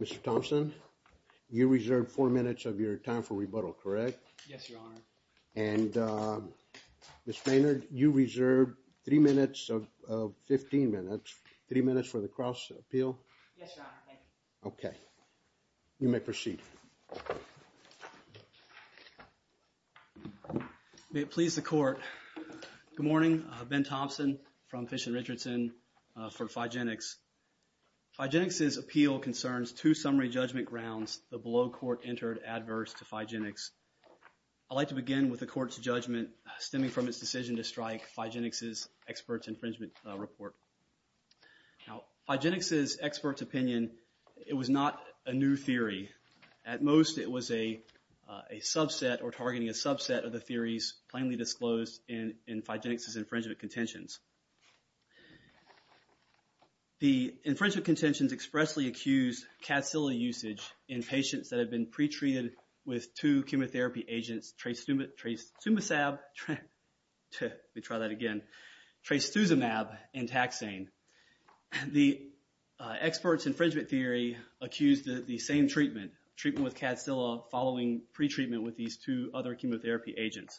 Mr. Thompson, you reserved four minutes of your time for rebuttal, correct? Yes, Your Honor. And Ms. Maynard, you reserved three minutes of, 15 minutes, three minutes for the cross appeal? Yes, Your Honor. Thank you. Okay. You may proceed. May it please the Court, good morning, Ben Thompson from Fish and Richardson for Figenix. Figenix's appeal concerns two summary judgment grounds the below court entered adverse to I'd like to begin with the court's judgment stemming from its decision to strike Figenix's experts infringement report. Now, Figenix's expert's opinion, it was not a new theory. At most it was a subset or targeting a subset of the theories plainly disclosed in Figenix's infringement contentions. The infringement contentions expressly accused Cadsilla usage in patients that had been pretreated with two chemotherapy agents, Trastumasab, let me try that again, Trastuzumab and Taxane. The expert's infringement theory accused the same treatment, treatment with Cadsilla following pretreatment with these two other chemotherapy agents.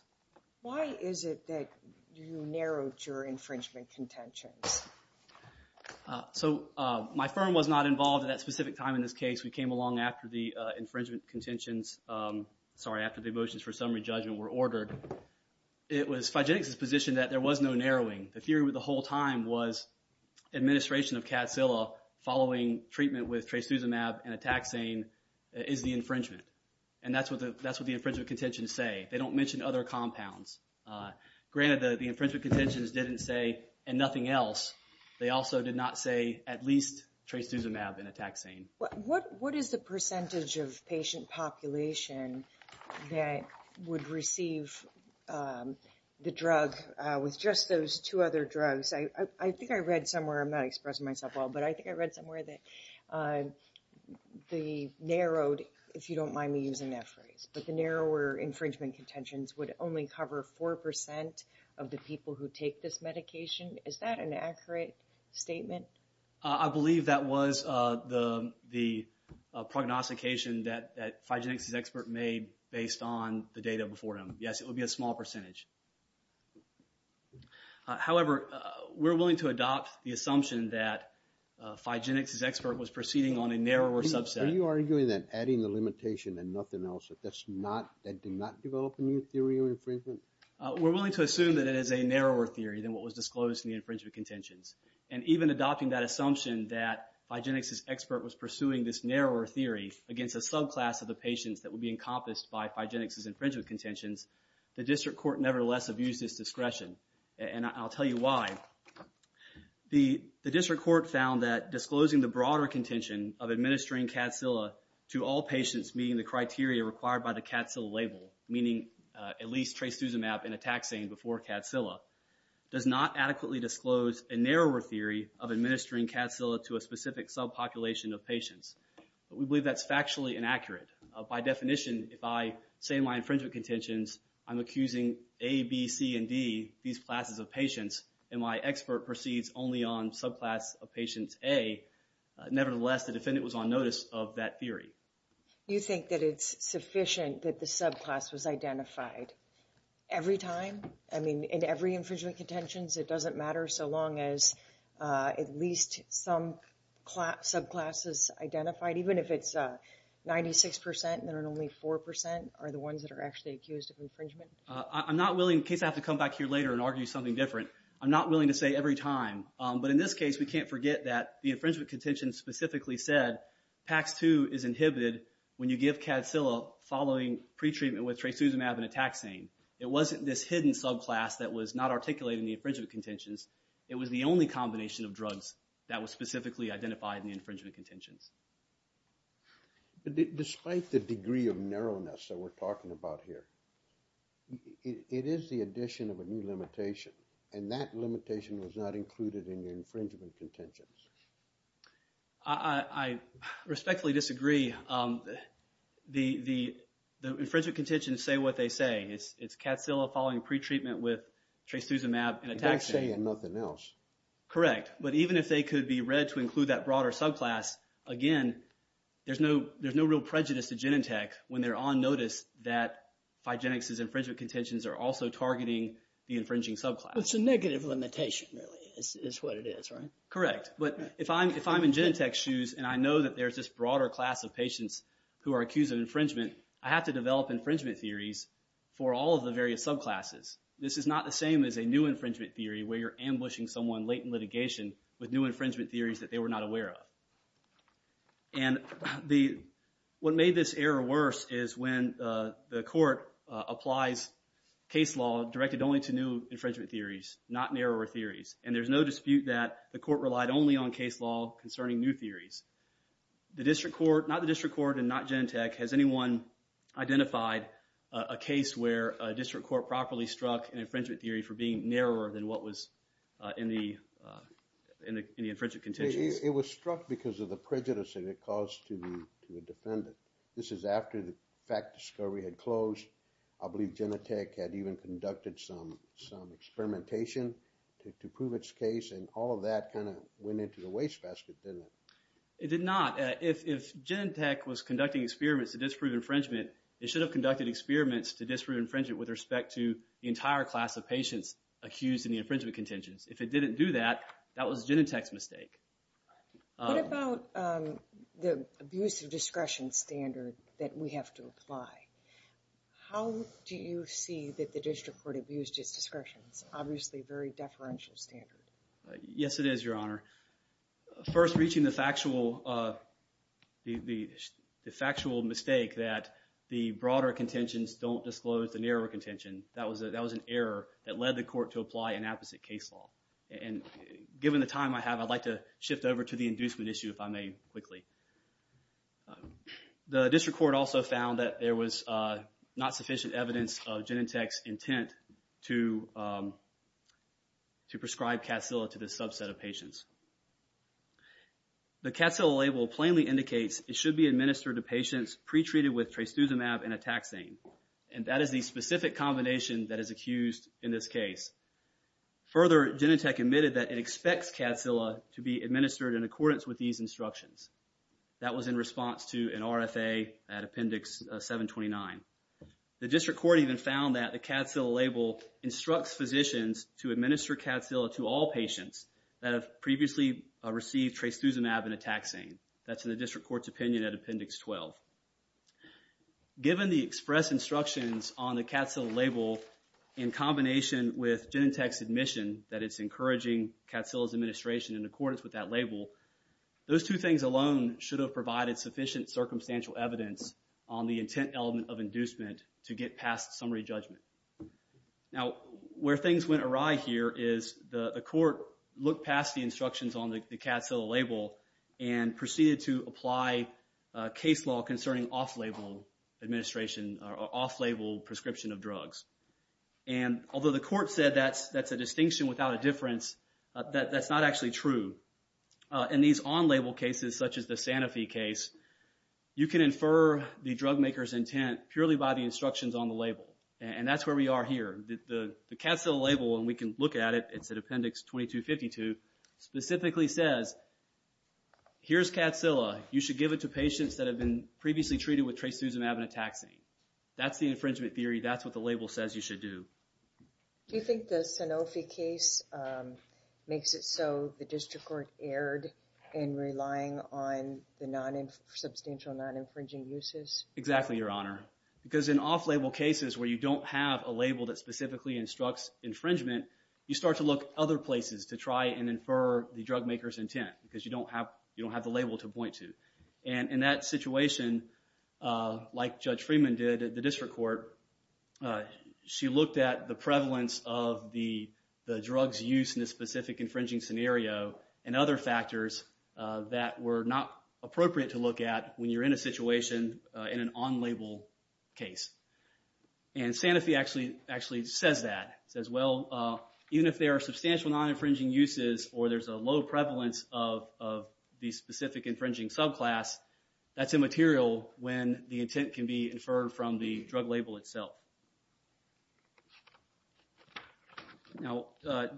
Why is it that you narrowed your infringement contentions? So my firm was not involved at that specific time in this case. We came along after the infringement contentions, sorry, after the motions for summary judgment were ordered. It was Figenix's position that there was no narrowing. The theory with the whole time was administration of Cadsilla following treatment with Trastuzumab and Taxane is the infringement. And that's what the infringement contentions say. They don't mention other compounds. Granted, the infringement contentions didn't say and nothing else, they also did not say at least Trastuzumab and Taxane. What is the percentage of patient population that would receive the drug with just those two other drugs? I think I read somewhere, I'm not expressing myself well, but I think I read somewhere that the narrowed, if you don't mind me using that phrase, but the narrower infringement contentions would only cover 4% of the people who take this medication. Is that an accurate statement? I believe that was the prognostication that Figenix's expert made based on the data before him. Yes, it would be a small percentage. However, we're willing to adopt the assumption that Figenix's expert was proceeding on a narrower subset. Are you arguing that adding the limitation and nothing else, that's not, that did not develop a new theory of infringement? We're willing to assume that it is a narrower theory than what was disclosed in the infringement contentions. And even adopting that assumption that Figenix's expert was pursuing this narrower theory against a subclass of the patients that would be encompassed by Figenix's infringement contentions, the district court nevertheless abused its discretion. And I'll tell you why. The district court found that disclosing the broader contention of administering Cadsilla to all patients meeting the criteria required by the Cadsilla label, meaning at least Trastuzumab and Ataxane before Cadsilla, does not adequately disclose a narrower theory of administering Cadsilla to a specific subpopulation of patients. But we believe that's factually inaccurate. By definition, if I say in my infringement contentions, I'm accusing A, B, C, and D, these classes of patients, and my expert proceeds only on subclass of patient A, nevertheless the defendant was on notice of that theory. You think that it's sufficient that the subclass was identified? Every time? I mean, in every infringement contentions, it doesn't matter so long as at least some subclass is identified, even if it's 96% and there are only 4% are the ones that are actually accused of infringement? I'm not willing, in case I have to come back here later and argue something different, I'm not willing to say every time. But in this case, we can't forget that the infringement contentions specifically said Pax 2 is inhibited when you give Cadsilla following pretreatment with Trastuzumab and Taxane. It wasn't this hidden subclass that was not articulated in the infringement contentions. It was the only combination of drugs that was specifically identified in the infringement contentions. But despite the degree of narrowness that we're talking about here, it is the addition of a new limitation, and that limitation was not included in the infringement contentions. I respectfully disagree. The infringement contentions say what they say. It's Cadsilla following pretreatment with Trastuzumab and Taxane. They're not saying nothing else. Correct. But even if they could be read to include that broader subclass, again, there's no real prejudice to Genentech when they're on notice that Phygenics' infringement contentions are also targeting the infringing subclass. It's a negative limitation, really, is what it is, right? Correct. But if I'm in Genentech's shoes and I know that there's this broader class of patients who are accused of infringement, I have to develop infringement theories for all of the various subclasses. This is not the same as a new infringement theory where you're ambushing someone late in litigation with new infringement theories that they were not aware of. What made this error worse is when the court applies case law directed only to new infringement theories, not narrower theories. And there's no dispute that the court relied only on case law concerning new theories. The district court, not the district court and not Genentech, has anyone identified a case where a district court properly struck an infringement theory for being narrower than what was in the infringement contentions? It was struck because of the prejudice that it caused to the defendant. This is after the fact discovery had closed. I believe Genentech had even conducted some experimentation to prove its case and all of that kind of went into the wastebasket, didn't it? It did not. If Genentech was conducting experiments to disprove infringement, it should have conducted experiments to disprove infringement with respect to the entire class of patients accused in the infringement contentions. If it didn't do that, that was Genentech's mistake. What about the abuse of discretion standard that we have to apply? How do you see that the district court abused its discretion? It's obviously a very deferential standard. Yes, it is, Your Honor. First reaching the factual mistake that the broader contentions don't disclose the narrower contention, that was an error that led the court to apply an apposite case law. Given the time I have, I'd like to shift over to the inducement issue, if I may, quickly. The district court also found that there was not sufficient evidence of Genentech's intent to prescribe Cacilla to this subset of patients. The Cacilla label plainly indicates it should be administered to patients pre-treated with Trastuzumab and Ataxan, and that is the specific combination that is accused in this case. Further, Genentech admitted that it expects Cacilla to be administered in accordance with these instructions. That was in response to an RFA at Appendix 729. The district court even found that the Cacilla label instructs physicians to administer Cacilla to all patients that have previously received Trastuzumab and Ataxan. That's in the district court's opinion at Appendix 12. Given the express instructions on the Cacilla label in combination with Genentech's admission that it's encouraging Cacilla's administration in accordance with that label, those two things alone should have provided sufficient circumstantial evidence on the intent element of inducement to get past summary judgment. Now, where things went awry here is the court looked past the instructions on the Cacilla label and proceeded to apply case law concerning off-label administration or off-label prescription of drugs. Although the court said that's a distinction without a difference, that's not actually true. In these on-label cases, such as the Sanofi case, you can infer the drug maker's intent purely by the instructions on the label, and that's where we are here. The Cacilla label, and we can look at it, it's at Appendix 2252, specifically says, here's Cacilla. You should give it to patients that have been previously treated with Trastuzumab and Ataxan. That's the infringement theory. That's what the label says you should do. Do you think the Sanofi case makes it so the district court erred in relying on the substantial non-infringing uses? Exactly, Your Honor. Because in off-label cases where you don't have a label that specifically instructs infringement, you start to look other places to try and infer the drug maker's intent because you don't have the label to point to. In that situation, like Judge Freeman did at the district court, she looked at the prevalence of the drug's use in a specific infringing scenario and other factors that were not appropriate to look at when you're in a situation in an on-label case. And Sanofi actually says that. It says, well, even if there are substantial non-infringing uses or there's a low prevalence of the specific infringing subclass, that's immaterial when the intent can be inferred from the drug label itself. Now,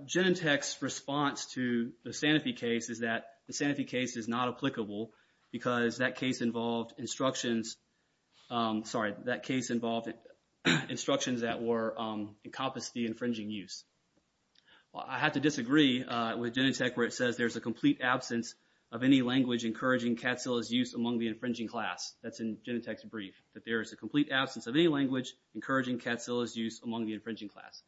Genentech's response to the Sanofi case is that the Sanofi case is not applicable because that case involved instructions, sorry, that case involved instructions that encompass the infringing use. Well, I have to disagree with Genentech where it says there's a complete absence of any language encouraging Catzilla's use among the infringing class. That's in Genentech's brief, that there is a complete absence of any language encouraging Catzilla's use among the infringing class.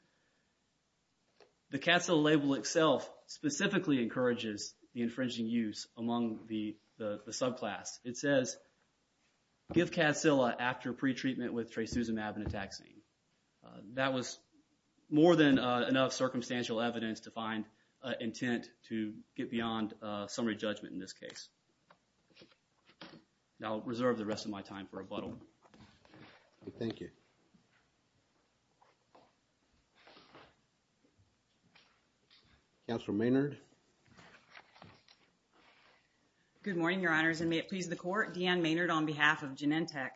The Catzilla label itself specifically encourages the infringing use among the subclass. It says, give Catzilla after pretreatment with trisuzumab and ataxine. That was more than enough circumstantial evidence to find intent to get beyond summary judgment in this case. Now, I'll reserve the rest of my time for rebuttal. Thank you. Counselor Maynard. Good morning, your honors, and may it please the court. Deanne Maynard on behalf of Genentech.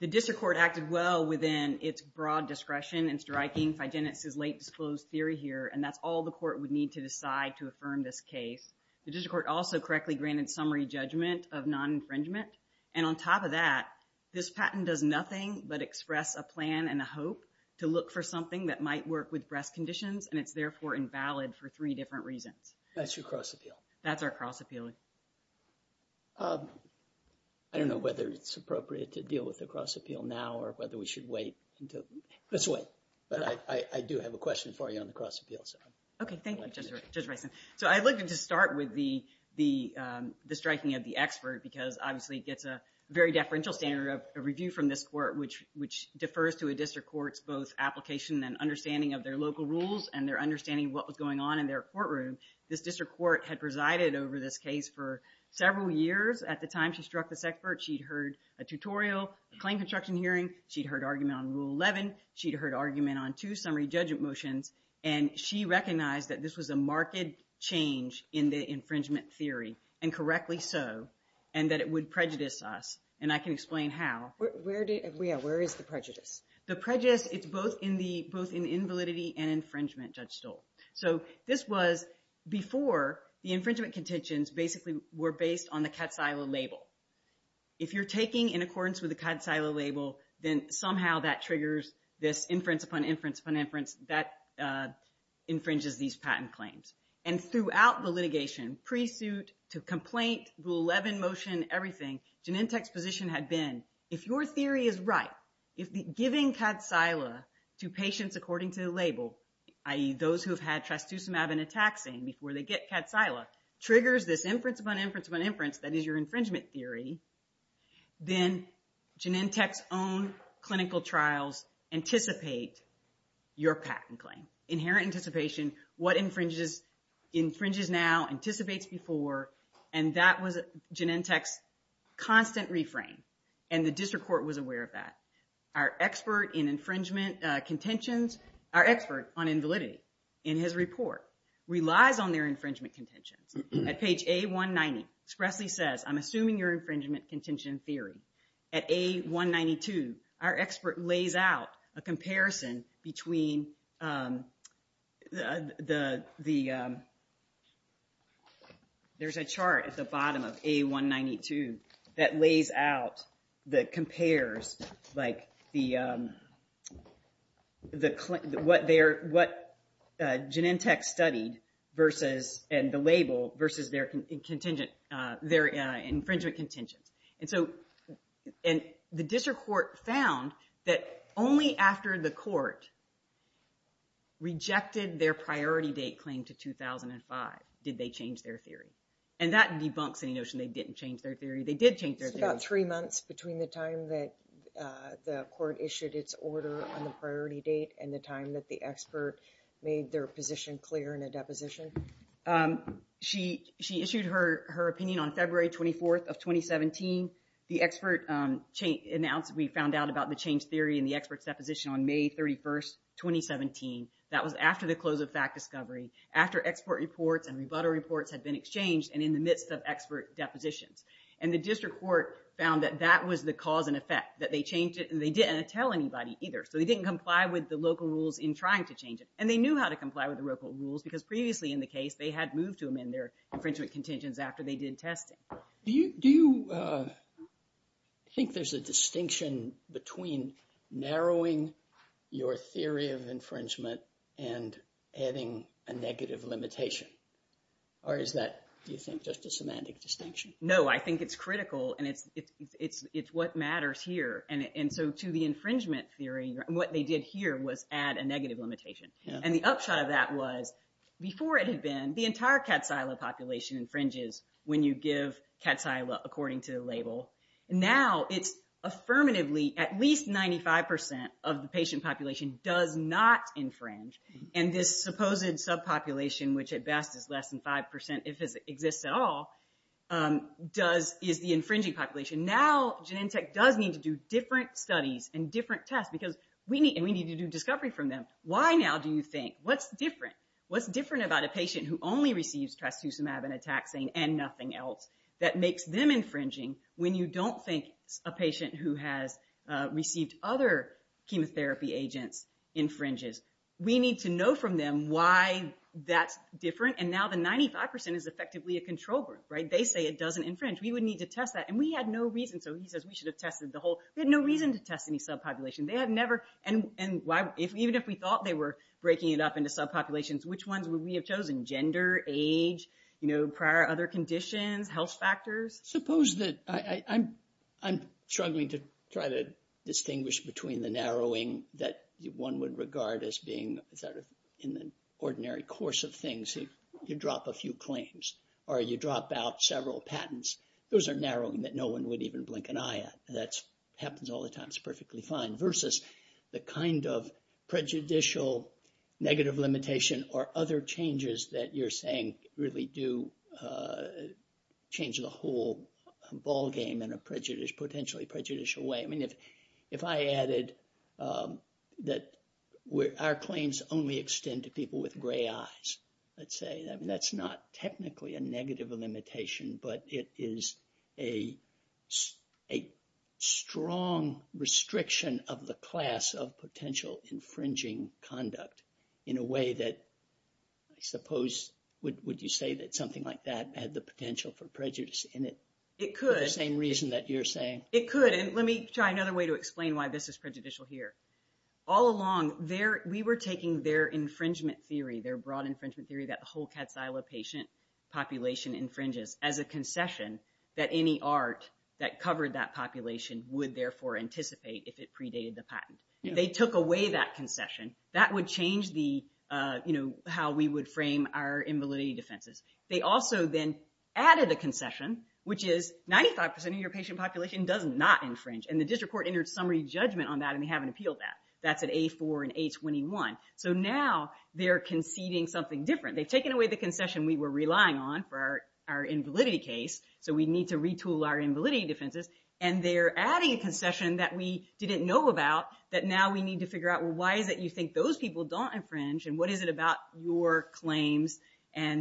The district court acted well within its broad discretion in striking Figenetz's late disclosed theory here, and that's all the court would need to decide to affirm this case. The district court also correctly granted summary judgment of non-infringement. And on top of that, this patent does nothing but express a plan and a hope to look for something that might work with breast conditions, and it's therefore invalid for three different reasons. That's your cross-appeal. That's our cross-appeal. I don't know whether it's appropriate to deal with the cross-appeal now or whether we should wait. Let's wait. But I do have a question for you on the cross-appeal. Okay. Thank you, Judge Rison. So I'd like to just start with the striking of the expert because, obviously, it gets a very deferential standard of review from this court, which defers to a district court's both application and understanding of their local rules and their understanding of what was going on in their courtroom. This district court had presided over this case for several years. At the time she struck this expert, she'd heard a tutorial, a claim construction hearing. She'd heard argument on Rule 11. She'd heard argument on two summary judgment motions. And she recognized that this was a marked change in the infringement theory, and correctly so, and that it would prejudice us. And I can explain how. Where is the prejudice? The prejudice, it's both in invalidity and infringement, Judge Stoll. So this was before the infringement contentions basically were based on the cat silo label. If you're taking in accordance with the cat silo label, then somehow that triggers this infringes these patent claims. And throughout the litigation, pre-suit to complaint, Rule 11 motion, everything, Genentech's position had been, if your theory is right, if giving cat silo to patients according to the label, i.e. those who have had trastuzumab and ataxin before they get cat silo, triggers this inference upon inference upon inference, that is your infringement theory, then Genentech's own clinical trials anticipate your patent claim. Inherent anticipation, what infringes now, anticipates before, and that was Genentech's constant reframe. And the district court was aware of that. Our expert in infringement contentions, our expert on invalidity in his report, relies on their infringement contentions. At page A190, Spressley says, I'm assuming your infringement contention theory. At A192, our expert lays out a comparison between the, there's a chart at the bottom of A192 that lays out, that compares like the, what Genentech studied versus, and the label, versus their infringement contentions. And so the district court found that only after the court rejected their priority date claim to 2005 did they change their theory. And that debunks any notion they didn't change their theory. They did change their theory. It's about three months between the time that the court issued its order on the priority date and the time that the expert made their position clear in a deposition. She issued her opinion on February 24th of 2017. The expert announced, we found out about the change theory in the expert's deposition on May 31st, 2017. That was after the close of fact discovery. After export reports and rebuttal reports had been exchanged and in the midst of expert depositions. And the district court found that that was the cause and effect, that they changed it and they didn't tell anybody either. So they didn't comply with the local rules in trying to change it. And they knew how to comply with the local rules because previously in the case, they had moved to amend their infringement contentions after they did testing. Do you think there's a distinction between narrowing your theory of infringement and adding a negative limitation? Or is that, do you think, just a semantic distinction? No, I think it's critical and it's what matters here. And so to the infringement theory, what they did here was add a negative limitation. And the upshot of that was, before it had been, the entire cat silo population infringes when you give cat silo according to the label. Now it's affirmatively at least 95% of the patient population does not infringe. And this supposed subpopulation, which at best is less than 5% if it exists at all, is the infringing population. Now Genentech does need to do different studies and different tests because we need to do discovery from them. Why now do you think? What's different? What's different about a patient who only receives trastuzumab and ataxane and nothing else that makes them infringing when you don't think a patient who has received other chemotherapy agents infringes? We need to know from them why that's different. And now the 95% is effectively a control group, right? They say it doesn't infringe. We would need to test that. And we had no reason. So he says we should have tested the whole... We had no reason to test any subpopulation. They had never... And even if we thought they were breaking it up into subpopulations, which ones would we have chosen? Gender, age, prior other conditions, health factors? Suppose that... I'm struggling to try to distinguish between the narrowing that one would regard as being sort of in the ordinary course of things. You drop a few claims or you drop out several patents. Those are narrowing that no one would even blink an eye at. That happens all the time. It's perfectly fine. Versus the kind of prejudicial negative limitation or other changes that you're saying really do change the whole ballgame in a potentially prejudicial way. I mean, if I added that our claims only extend to people with gray eyes, let's say, that's not technically a negative limitation, but it is a strong restriction of the class of It could. the same reason that you're saying. It could. And let me try another way to explain why this is prejudicial here. All along, we were taking their infringement theory, their broad infringement theory that the whole cat's isle of patient population infringes as a concession that any art that covered that population would therefore anticipate if it predated the patent. They took away that concession. That would change how we would frame our invalidity defenses. They also then added a concession, which is 95% of your patient population does not infringe. And the district court entered summary judgment on that, and they haven't appealed that. That's at A4 and A21. So now, they're conceding something different. They've taken away the concession we were relying on for our invalidity case, so we need to retool our invalidity defenses. And they're adding a concession that we didn't know about that now we need to figure out, well, why is it you think those people don't infringe, and what is it about your claims well, why is it you think those people don't infringe, and what is it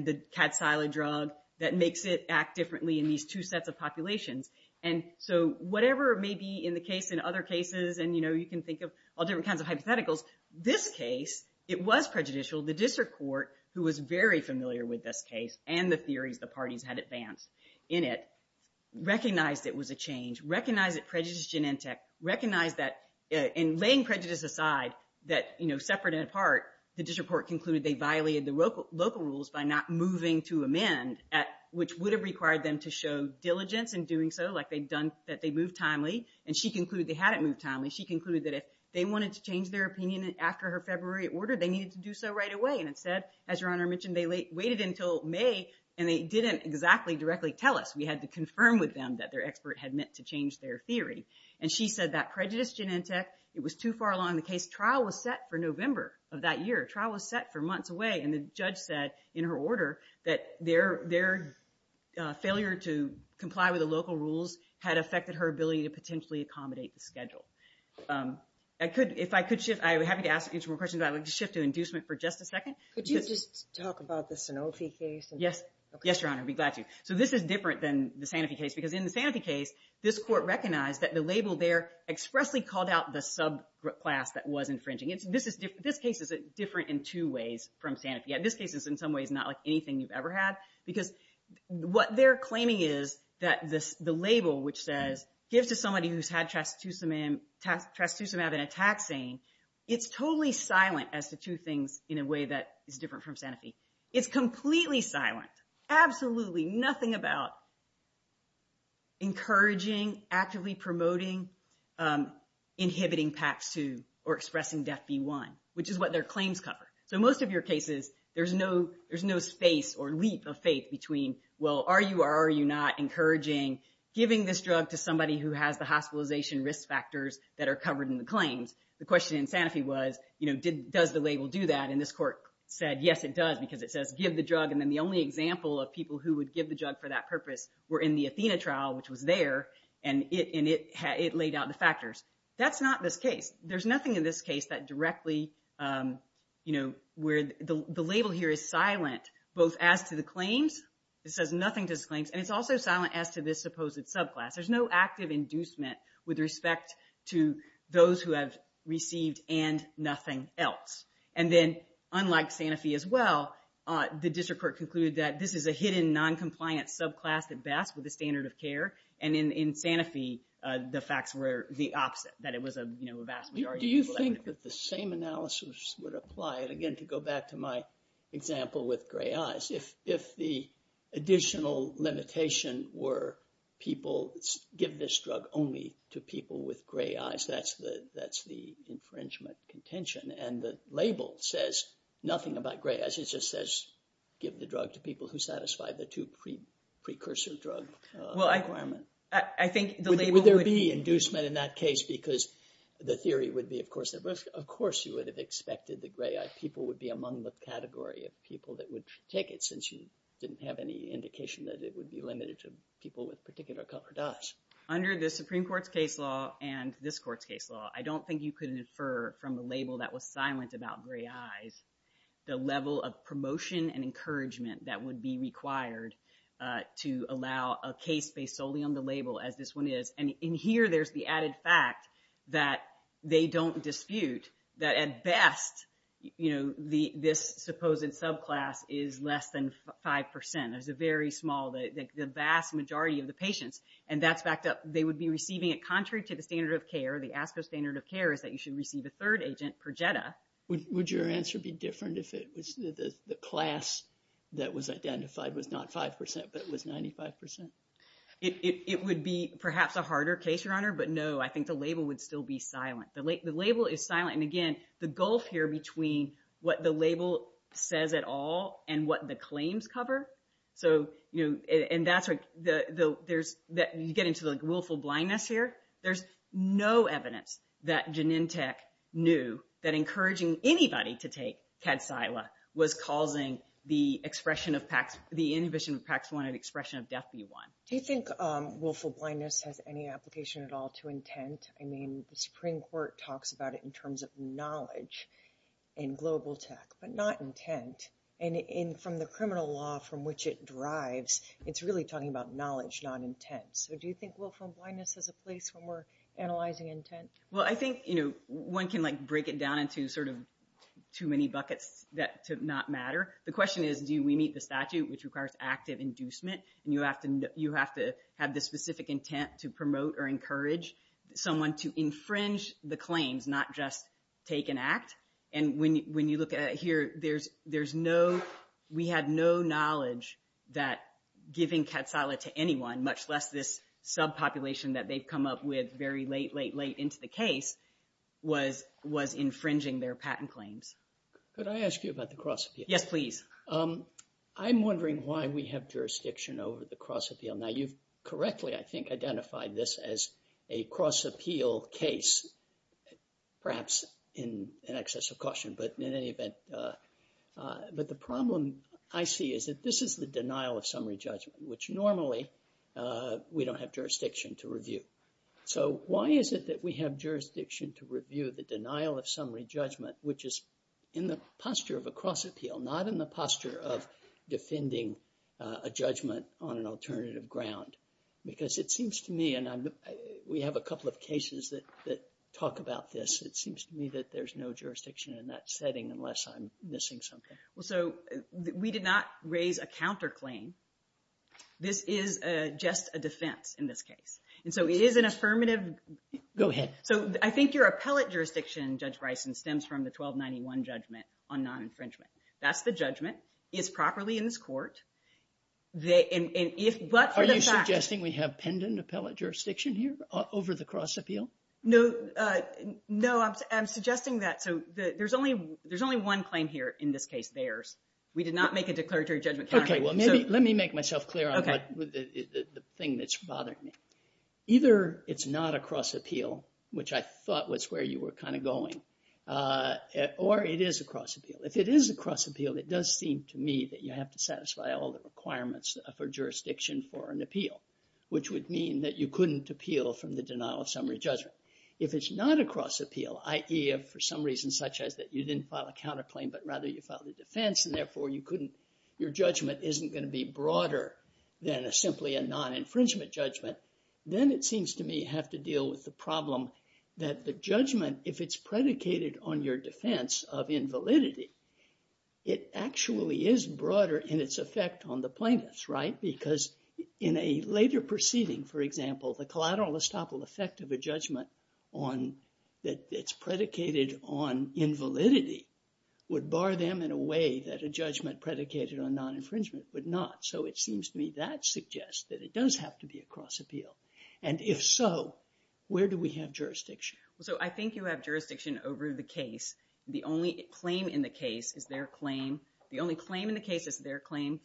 about your claims that makes it act differently in these two sets of populations? And so, whatever may be in the case in other cases, and you know, you can think of all different kinds of hypotheticals. This case, it was prejudicial. The district court, who was very familiar with this case and the theories the parties had advanced in it, recognized it was a change, recognized it prejudiced genentech, recognized that in laying prejudice aside that, you know, separate and apart, the district court concluded they violated the local rules by not moving to amend, which would have required them to show diligence in doing so, like they'd done, that they moved timely, and she concluded they hadn't moved timely. She concluded that if they wanted to change their opinion after her February order, they needed to do so right away, and instead, as Your Honor mentioned, they waited until May, and they didn't exactly directly tell us. We had to confirm with them that their expert had meant to change their theory. And she said that prejudiced genentech, it was too far along in the case. Trial was set for November of that year. Trial was set for months away, and the judge said in her order that their failure to comply with the local rules had affected her ability to potentially accommodate the schedule. If I could shift, I would be happy to ask an interim question, but I would like to shift to inducement for just a second. Could you just talk about the Sanofi case? Yes. Yes, Your Honor. I'd be glad to. So this is different than the Sanofi case, because in the Sanofi case, this court recognized that the label there expressly called out the subclass that was infringing. This case is different in two ways from Sanofi. In this case, it's in some ways not like anything you've ever had, because what they're claiming is that the label, which says, gives to somebody who's had trastuzumab in a taxane, it's totally silent as to two things in a way that is different from Sanofi. It's completely silent. In fact, absolutely nothing about encouraging, actively promoting, inhibiting PAP2 or expressing DEFB1, which is what their claims cover. So most of your cases, there's no space or leap of faith between, well, are you or are you not encouraging giving this drug to somebody who has the hospitalization risk factors that are covered in the claims? The question in Sanofi was, does the label do that? And this court said, yes, it does, because it says, give the drug, and then the only example of people who would give the drug for that purpose were in the Athena trial, which was there, and it laid out the factors. That's not this case. There's nothing in this case that directly, where the label here is silent, both as to the claims, it says nothing to the claims, and it's also silent as to this supposed subclass. There's no active inducement with respect to those who have received and nothing else. And then, unlike Sanofi as well, the district court concluded that this is a hidden noncompliant subclass at best with the standard of care, and in Sanofi, the facts were the opposite, that it was a vast majority of people who had it. Do you think that the same analysis would apply, and again, to go back to my example with gray eyes, if the additional limitation were people give this drug only to people with gray eyes, that's the infringement contention, and the label says nothing about gray eyes. It just says, give the drug to people who satisfy the two precursor drug requirement. I think the label would- Would there be inducement in that case, because the theory would be, of course, you would have expected the gray eyed people would be among the category of people that would take it, since you didn't have any indication that it would be limited to people with particular colored eyes. Under the Supreme Court's case law, and this court's case law, I don't think you could infer from the label that was silent about gray eyes, the level of promotion and encouragement that would be required to allow a case based solely on the label, as this one is. And in here, there's the added fact that they don't dispute that, at best, this supposed subclass is less than 5%, there's a very small, the vast majority of the patients. And that's backed up, they would be receiving it contrary to the standard of care, the ASCO standard of care is that you should receive a third agent per JEDA. Would your answer be different if the class that was identified was not 5%, but was 95%? It would be, perhaps, a harder case, Your Honor, but no, I think the label would still be silent. The label is silent, and again, the gulf here between what the label says at all, and what the claims cover, and you get into the willful blindness here, there's no evidence that Genentech knew that encouraging anybody to take CADSILA was causing the inhibition of PAX1 and expression of DEFB1. Do you think willful blindness has any application at all to intent? I mean, the Supreme Court talks about it in terms of knowledge and global tech, but not intent. And from the criminal law from which it derives, it's really talking about knowledge, not intent. So do you think willful blindness has a place when we're analyzing intent? Well, I think one can break it down into sort of too many buckets to not matter. The question is, do we meet the statute, which requires active inducement, and you have to have the specific intent to promote or encourage someone to infringe the claims, not just take an act. And when you look at it here, we had no knowledge that giving CADSILA to anyone, much less this subpopulation that they've come up with very late, late, late into the case, was infringing their patent claims. Could I ask you about the cross-appeal? Yes, please. I'm wondering why we have jurisdiction over the cross-appeal. Now, you've correctly, I think, identified this as a cross-appeal case, perhaps in excess of caution, but in any event. But the problem I see is that this is the denial of summary judgment, which normally we don't have jurisdiction to review. So why is it that we have jurisdiction to review the denial of summary judgment, which is in the posture of a cross-appeal, not in the posture of defending a judgment on an alternative ground? Because it seems to me, and we have a couple of cases that talk about this, it seems to me that there's no jurisdiction in that setting unless I'm missing something. Well, so we did not raise a counterclaim. This is just a defense in this case. And so it is an affirmative... Go ahead. So I think your appellate jurisdiction, Judge Bryson, stems from the 1291 judgment on non-infringement. That's the judgment. It's properly in this court. Are you suggesting we have pendant appellate jurisdiction here over the cross-appeal? No, I'm suggesting that. So there's only one claim here in this case, theirs. We did not make a declaratory judgment counterclaim. Okay, well, let me make myself clear on the thing that's bothering me. Either it's not a cross-appeal, which I thought was where you were kind of going, or it is a cross-appeal. If it is a cross-appeal, it does seem to me that you have to satisfy all the requirements for jurisdiction for an appeal, which would mean that you couldn't appeal from the denial of summary judgment. If it's not a cross-appeal, i.e. for some reason such as that you didn't file a counterclaim, but rather you filed a defense, and therefore you couldn't... Your judgment isn't going to be broader than simply a non-infringement judgment, then it seems to me you have to deal with the problem that the judgment, if it's predicated on your validity, it actually is broader in its effect on the plaintiffs, right? Because in a later proceeding, for example, the collateral estoppel effect of a judgment that it's predicated on invalidity would bar them in a way that a judgment predicated on non-infringement would not. So it seems to me that suggests that it does have to be a cross-appeal. And if so, where do we have jurisdiction? So I think you have jurisdiction over the case. The only claim in the case is their claim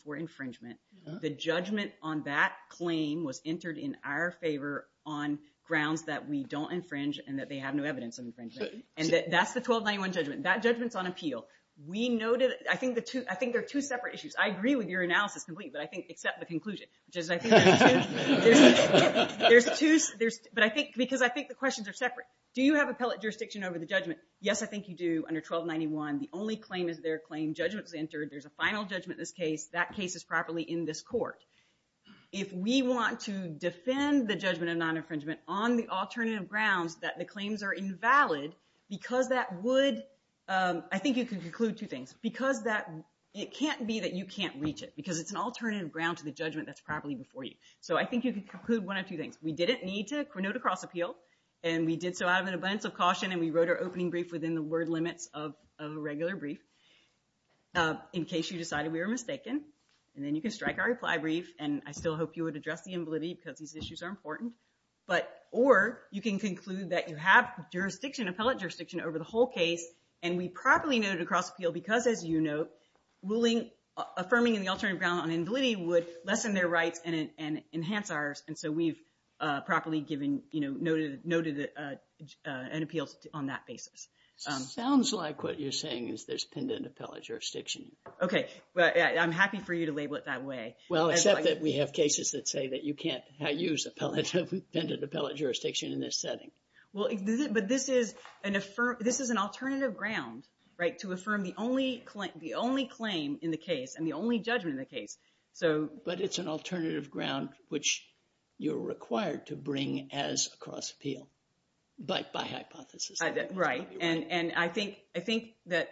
for infringement. The judgment on that claim was entered in our favor on grounds that we don't infringe and that they have no evidence of infringement. And that's the 1291 judgment. That judgment's on appeal. We know that... I think there are two separate issues. I agree with your analysis completely, but I think, except the conclusion, which is I think there's two... Because I think the questions are separate. Do you have appellate jurisdiction over the judgment? Yes, I think you do, under 1291. The only claim is their claim. Judgment's entered. There's a final judgment in this case. That case is properly in this court. If we want to defend the judgment of non-infringement on the alternative grounds that the claims are invalid because that would... I think you can conclude two things. Because that... It can't be that you can't reach it because it's an alternative ground to the judgment that's properly before you. So I think you can conclude one of two things. We didn't need to note a cross-appeal. And we did so out of an abundance of caution, and we wrote our opening brief within the word limits of a regular brief. In case you decided we were mistaken, and then you can strike our reply brief. And I still hope you would address the invalidity because these issues are important. But... Or you can conclude that you have jurisdiction, appellate jurisdiction, over the whole case, and we properly noted a cross-appeal because, as you note, affirming in the alternative ground on invalidity would lessen their rights and enhance ours. And so we've properly given, noted an appeal on that basis. Sounds like what you're saying is there's pendent appellate jurisdiction. Okay. Well, I'm happy for you to label it that way. Well, except that we have cases that say that you can't use pendent appellate jurisdiction in this setting. Well, but this is an affirmative... This is an alternative ground, right? To affirm the only claim in the case and the only judgment in the case, so... But it's an alternative ground, which you're required to bring as a cross-appeal, but by hypothesis. Right. And I think that,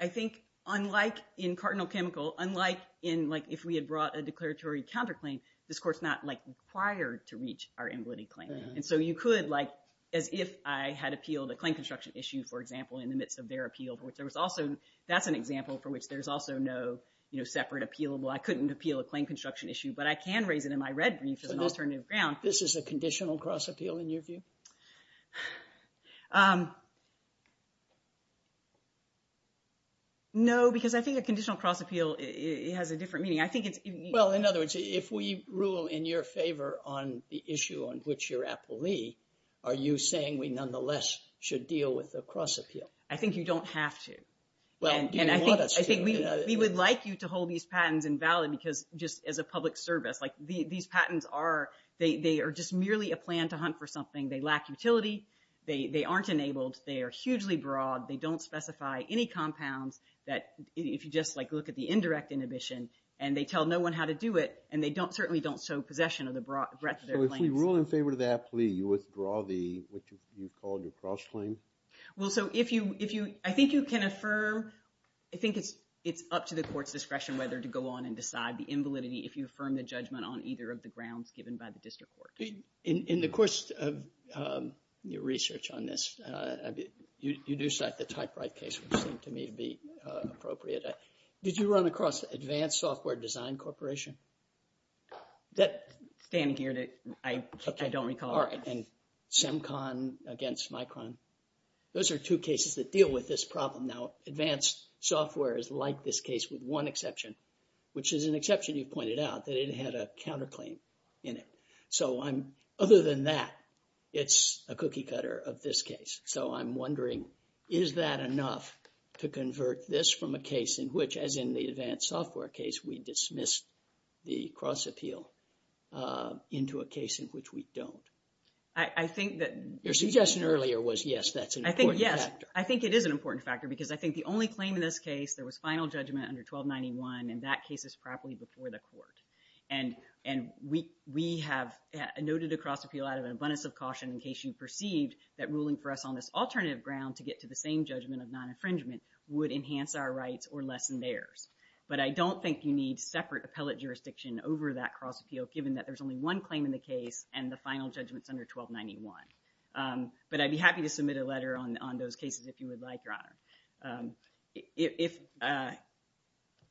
I think, unlike in Cardinal Chemical, unlike in, like, if we had brought a declaratory counterclaim, this Court's not, like, required to reach our invalidity claim. And so you could, like, as if I had appealed a claim construction issue, for example, in the midst of their appeal, for which there was also, that's an example for which there's also no, you know, separate appealable. I couldn't appeal a claim construction issue, but I can raise it in my red brief as an alternative ground. So this is a conditional cross-appeal in your view? No, because I think a conditional cross-appeal, it has a different meaning. I think it's... Well, in other words, if we rule in your favor on the issue on which you're appellee, are you saying we nonetheless should deal with the cross-appeal? I think you don't have to. Well, do you want us to? And I think we would like you to hold these patents invalid, because just as a public service, like, these patents are, they are just merely a plan to hunt for something. They lack utility. They aren't enabled. They are hugely broad. They don't specify any compounds that, if you just, like, look at the indirect inhibition, and they tell no one how to do it, and they don't, certainly don't show possession of the breadth of their claims. So if we rule in favor of the appellee, you withdraw the, what you called your cross-claim? Well, so if you, if you, I think you can affirm, I think it's up to the court's discretion whether to go on and decide the invalidity if you affirm the judgment on either of the grounds given by the district court. In the course of your research on this, you do cite the typewrite case, which seemed to me to be appropriate. Did you run across Advanced Software Design Corporation? That, standing here, that I, I don't recall. Okay. All right. And CEMCON against Micron. Those are two cases that deal with this problem. Now, Advanced Software is like this case with one exception, which is an exception you've pointed out, that it had a counterclaim in it. So I'm, other than that, it's a cookie cutter of this case. So I'm wondering, is that enough to convert this from a case in which, as in the Advanced Software case, we dismissed the cross appeal into a case in which we don't? I think that... Your suggestion earlier was, yes, that's an important factor. I think it is an important factor because I think the only claim in this case, there was final judgment under 1291, and that case is properly before the court. And we, we have noted a cross appeal out of an abundance of caution in case you perceived that ruling for us on this alternative ground to get to the same judgment of non-infringement would enhance our rights or lessen theirs. But I don't think you need separate appellate jurisdiction over that cross appeal, given that there's only one claim in the case and the final judgment's under 1291. But I'd be happy to submit a letter on, on those cases if you would like, Your Honor. If, uh,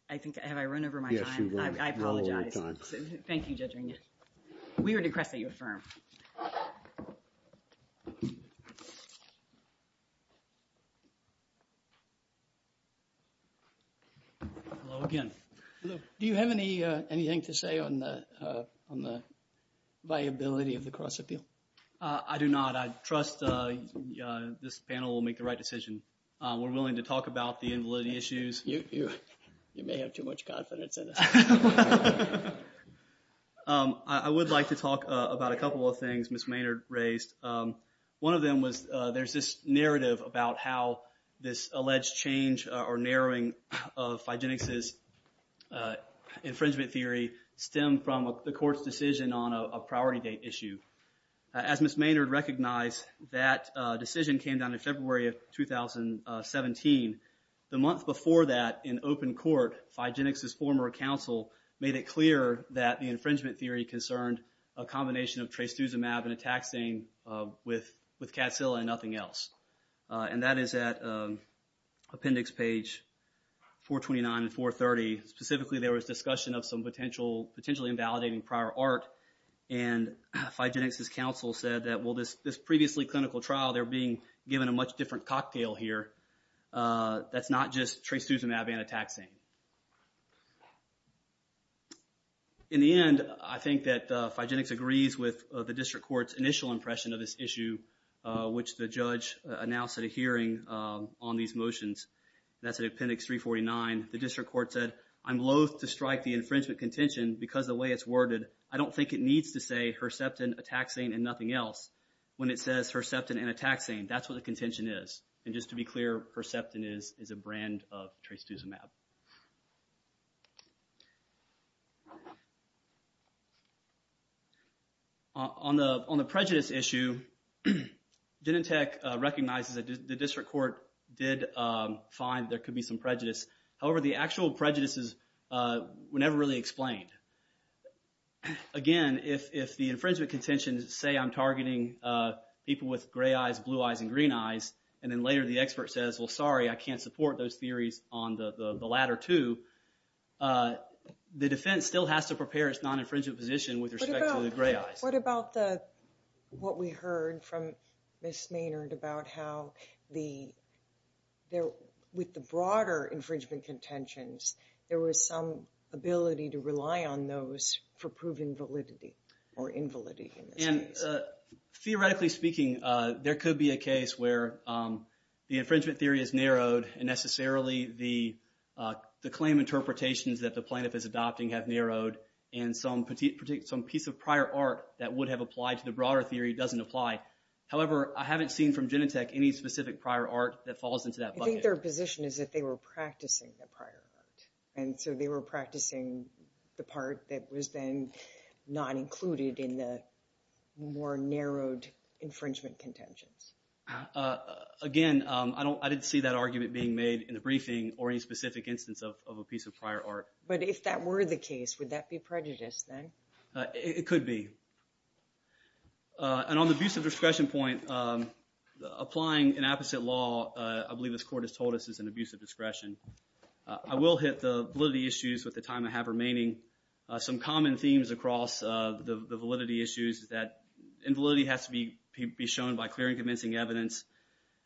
I think, have I run over my time? Yes, you have run over your time. I, I apologize. Thank you, Judge Renia. We would request that you affirm. Hello again. Hello. Do you have any, uh, anything to say on the, uh, on the viability of the cross appeal? Uh, I do not. I trust, uh, uh, this panel will make the right decision. Uh, we're willing to talk about the invalidity issues. You, you, you may have too much confidence in us. Um, I, I would like to talk, uh, about a couple of things Ms. Maynard raised. Um, one of them was, uh, there's this narrative about how this alleged change, uh, or narrowing of Figenix's, uh, infringement theory stemmed from a, the court's decision on a, a priority date issue. Uh, as Ms. Maynard recognized, that, uh, decision came down in February of 2017. The month before that, in open court, Figenix's former counsel made it clear that the infringement theory concerned a combination of trastuzumab and a taxane, uh, with, with catzilla and nothing else. Uh, and that is at, um, appendix page 429 and 430. Specifically there was discussion of some potential, potentially invalidating prior art and Figenix's counsel said that, well, this, this previously clinical trial, they're being given a much different cocktail here, uh, that's not just trastuzumab and a taxane. In the end, I think that, uh, Figenix agrees with, uh, the district court's initial impression of this issue, uh, which the judge, uh, announced at a hearing, um, on these motions. That's at appendix 349. The district court said, I'm loath to strike the infringement contention because the way it's worded, I don't think it needs to say Herceptin, a taxane, and nothing else. When it says Herceptin and a taxane, that's what the contention is. And just to be clear, Herceptin is, is a brand of trastuzumab. On the, on the prejudice issue, Denentech recognizes that the district court did, um, find there could be some prejudice. However, the actual prejudices, uh, were never really explained. Again, if, if the infringement contentions say I'm targeting, uh, people with gray eyes, blue eyes, and green eyes, and then later the expert says, well, sorry, I can't support those theories on the, the latter two, uh, the defense still has to prepare its non-infringement position with respect to the gray eyes. What about the, what we heard from Ms. Maynard about how the, there, with the broader infringement contentions, there was some ability to rely on those for proven validity or invalidity in this case. And, uh, theoretically speaking, uh, there could be a case where, um, the infringement theory is narrowed and necessarily the, uh, the claim interpretations that the plaintiff is adopting have narrowed and some, some piece of prior art that would have applied to the broader theory doesn't apply. However, I haven't seen from Denentech any specific prior art that falls into that bucket. I think their position is that they were practicing the prior art. And so they were practicing the part that was then not included in the more narrowed infringement contentions. Uh, again, um, I don't, I didn't see that argument being made in the briefing or any specific instance of, of a piece of prior art. But if that were the case, would that be prejudiced then? It could be. Uh, and on the abuse of discretion point, um, applying an apposite law, uh, I believe is an abuse of discretion. I will hit the validity issues with the time I have remaining. Some common themes across, uh, the, the validity issues is that invalidity has to be, be shown by clear and convincing evidence.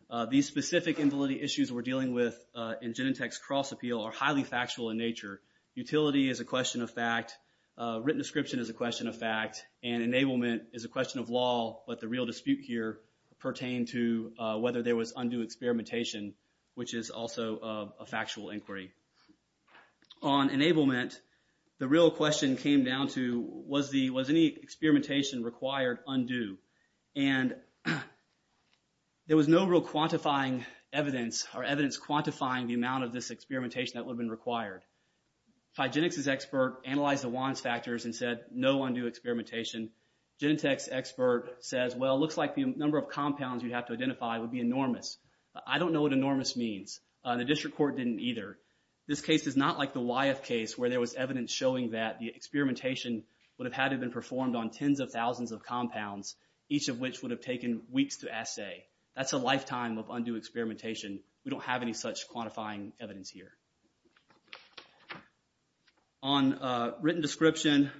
Uh, these specific invalidity issues we're dealing with, uh, in Denentech's cross appeal are highly factual in nature. Utility is a question of fact. Uh, written description is a question of fact. And enablement is a question of law, but the real dispute here pertained to, uh, whether there was undue experimentation, which is also, uh, a factual inquiry. On enablement, the real question came down to, was the, was any experimentation required undue? And there was no real quantifying evidence or evidence quantifying the amount of this experimentation that would have been required. Phygenics' expert analyzed the WANS factors and said, no undue experimentation. Genentech's expert says, well, it looks like the number of compounds you'd have to identify would be enormous. I don't know what enormous means. Uh, the district court didn't either. This case is not like the Wyeth case where there was evidence showing that the experimentation would have had to have been performed on tens of thousands of compounds, each of which would have taken weeks to assay. That's a lifetime of undue experimentation. We don't have any such quantifying evidence here. On, uh, written description,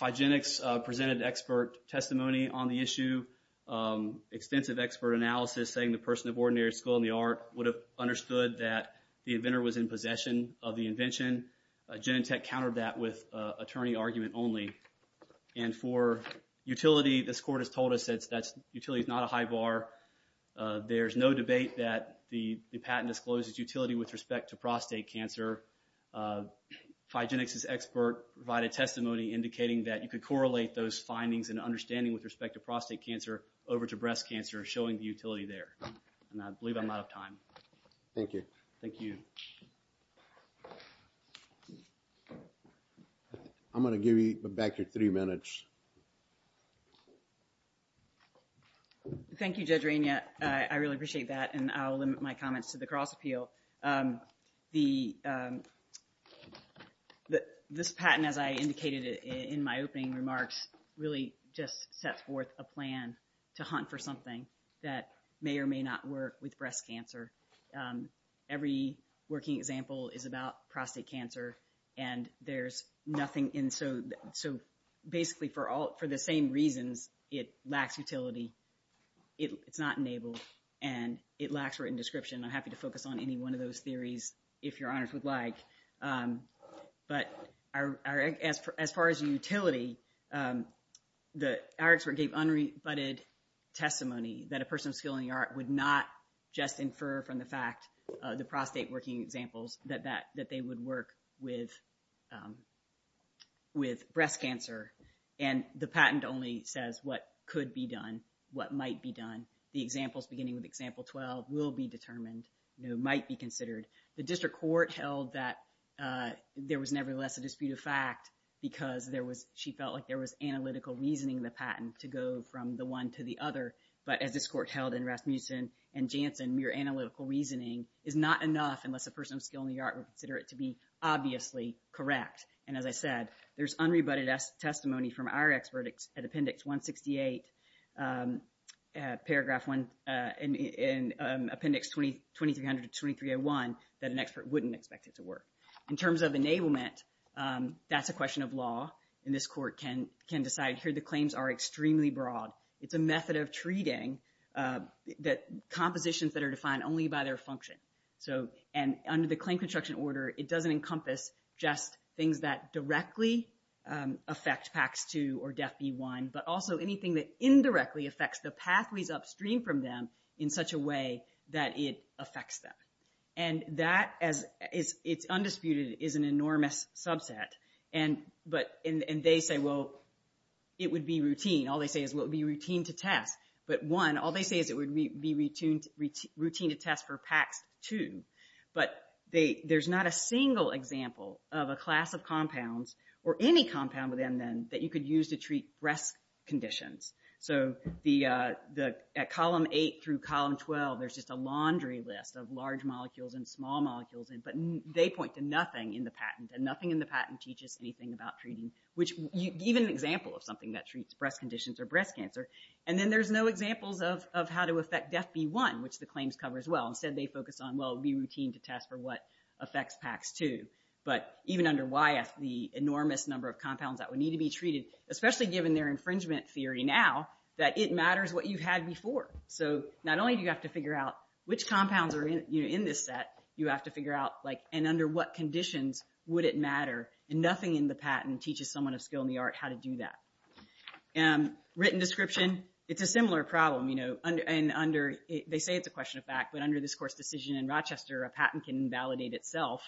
Phygenics, uh, presented expert testimony on the issue, um, extensive expert analysis saying the person of ordinary skill in the art would have understood that the inventor was in possession of the invention. Genentech countered that with, uh, attorney argument only. And for utility, this court has told us that's, that's, utility is not a high bar. Uh, there's no debate that the, the patent discloses utility with respect to prostate cancer. Uh, Phygenics' expert provided testimony indicating that you could correlate those findings and understanding with respect to prostate cancer over to breast cancer showing the utility there. And I believe I'm out of time. Thank you. Thank you. I'm going to give you back your three minutes. Thank you Judge Rainier. Uh, I really appreciate that and I'll limit my comments to the cross appeal. Um, the, um, the, this patent as I indicated in, in my opening remarks really just sets forth a plan to hunt for something that may or may not work with breast cancer. Um, every working example is about prostate cancer and there's nothing in, so, so basically for all, for the same reasons it lacks utility, it, it's not enabled and it lacks written description. I'm happy to focus on any one of those theories if your honors would like. Um, but our, our, as, as far as utility, um, the, our expert gave unrebutted testimony that a person of skill in the art would not just infer from the fact, uh, the prostate working examples that, that, that they would work with, um, with breast cancer. And the patent only says what could be done, what might be done. The examples beginning with example 12 will be determined, you know, might be considered. The district court held that, uh, there was nevertheless a dispute of fact because there was, she felt like there was analytical reasoning in the patent to go from the one to the other. But as this court held in Rasmussen and Jansen, mere analytical reasoning is not enough unless a person of skill in the art would consider it to be obviously correct. And as I said, there's unrebutted testimony from our expert at appendix 168, um, uh, paragraph one, uh, in, in, um, appendix 2300 to 2301 that an expert wouldn't expect it to work. In terms of enablement, um, that's a question of law and this court can, can decide here. The claims are extremely broad. It's a method of treating, uh, that compositions that are defined only by their function. So, and under the claim construction order, it doesn't encompass just things that directly, um, affect PACS 2 or DEF B1, but also anything that indirectly affects the pathways upstream from them in such a way that it affects them. And that as is, it's undisputed, is an enormous subset and, but, and, and they say, well, it would be routine. All they say is, well, it would be routine to test, but one, all they say is it would be routine, routine, routine to test for PACS 2, but they, there's not a single example of a class of compounds or any compound within them that you could use to treat breast conditions. So the, uh, the, at column eight through column 12, there's just a laundry list of large molecules and small molecules, but they point to nothing in the patent and nothing in the patent teaches anything about treating, which even an example of something that treats breast conditions or breast cancer. And then there's no examples of, of how to affect DEF B1, which the claims cover as well. Instead, they focus on, well, it would be routine to test for what affects PACS 2, but even under YF, the enormous number of compounds that would need to be treated, especially given their infringement theory now, that it matters what you've had before. So not only do you have to figure out which compounds are in, you know, in this set, you have to figure out like, and under what conditions would it matter? And nothing in the patent teaches someone of skill in the art how to do that. Written description, it's a similar problem, you know, and under, they say it's a question of fact, but under this course decision in Rochester, a patent can invalidate itself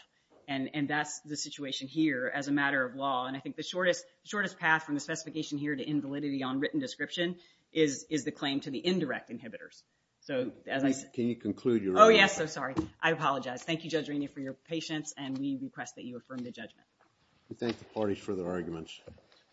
and that's the situation here as a matter of law. And I think the shortest, shortest path from the specification here to invalidity on written description is, is the claim to the indirect inhibitors. So as I said... Can you conclude your... Oh yes, I'm sorry. I apologize. Thank you Judge Rainey for your patience and we request that you affirm the judgment. We thank the parties for their arguments.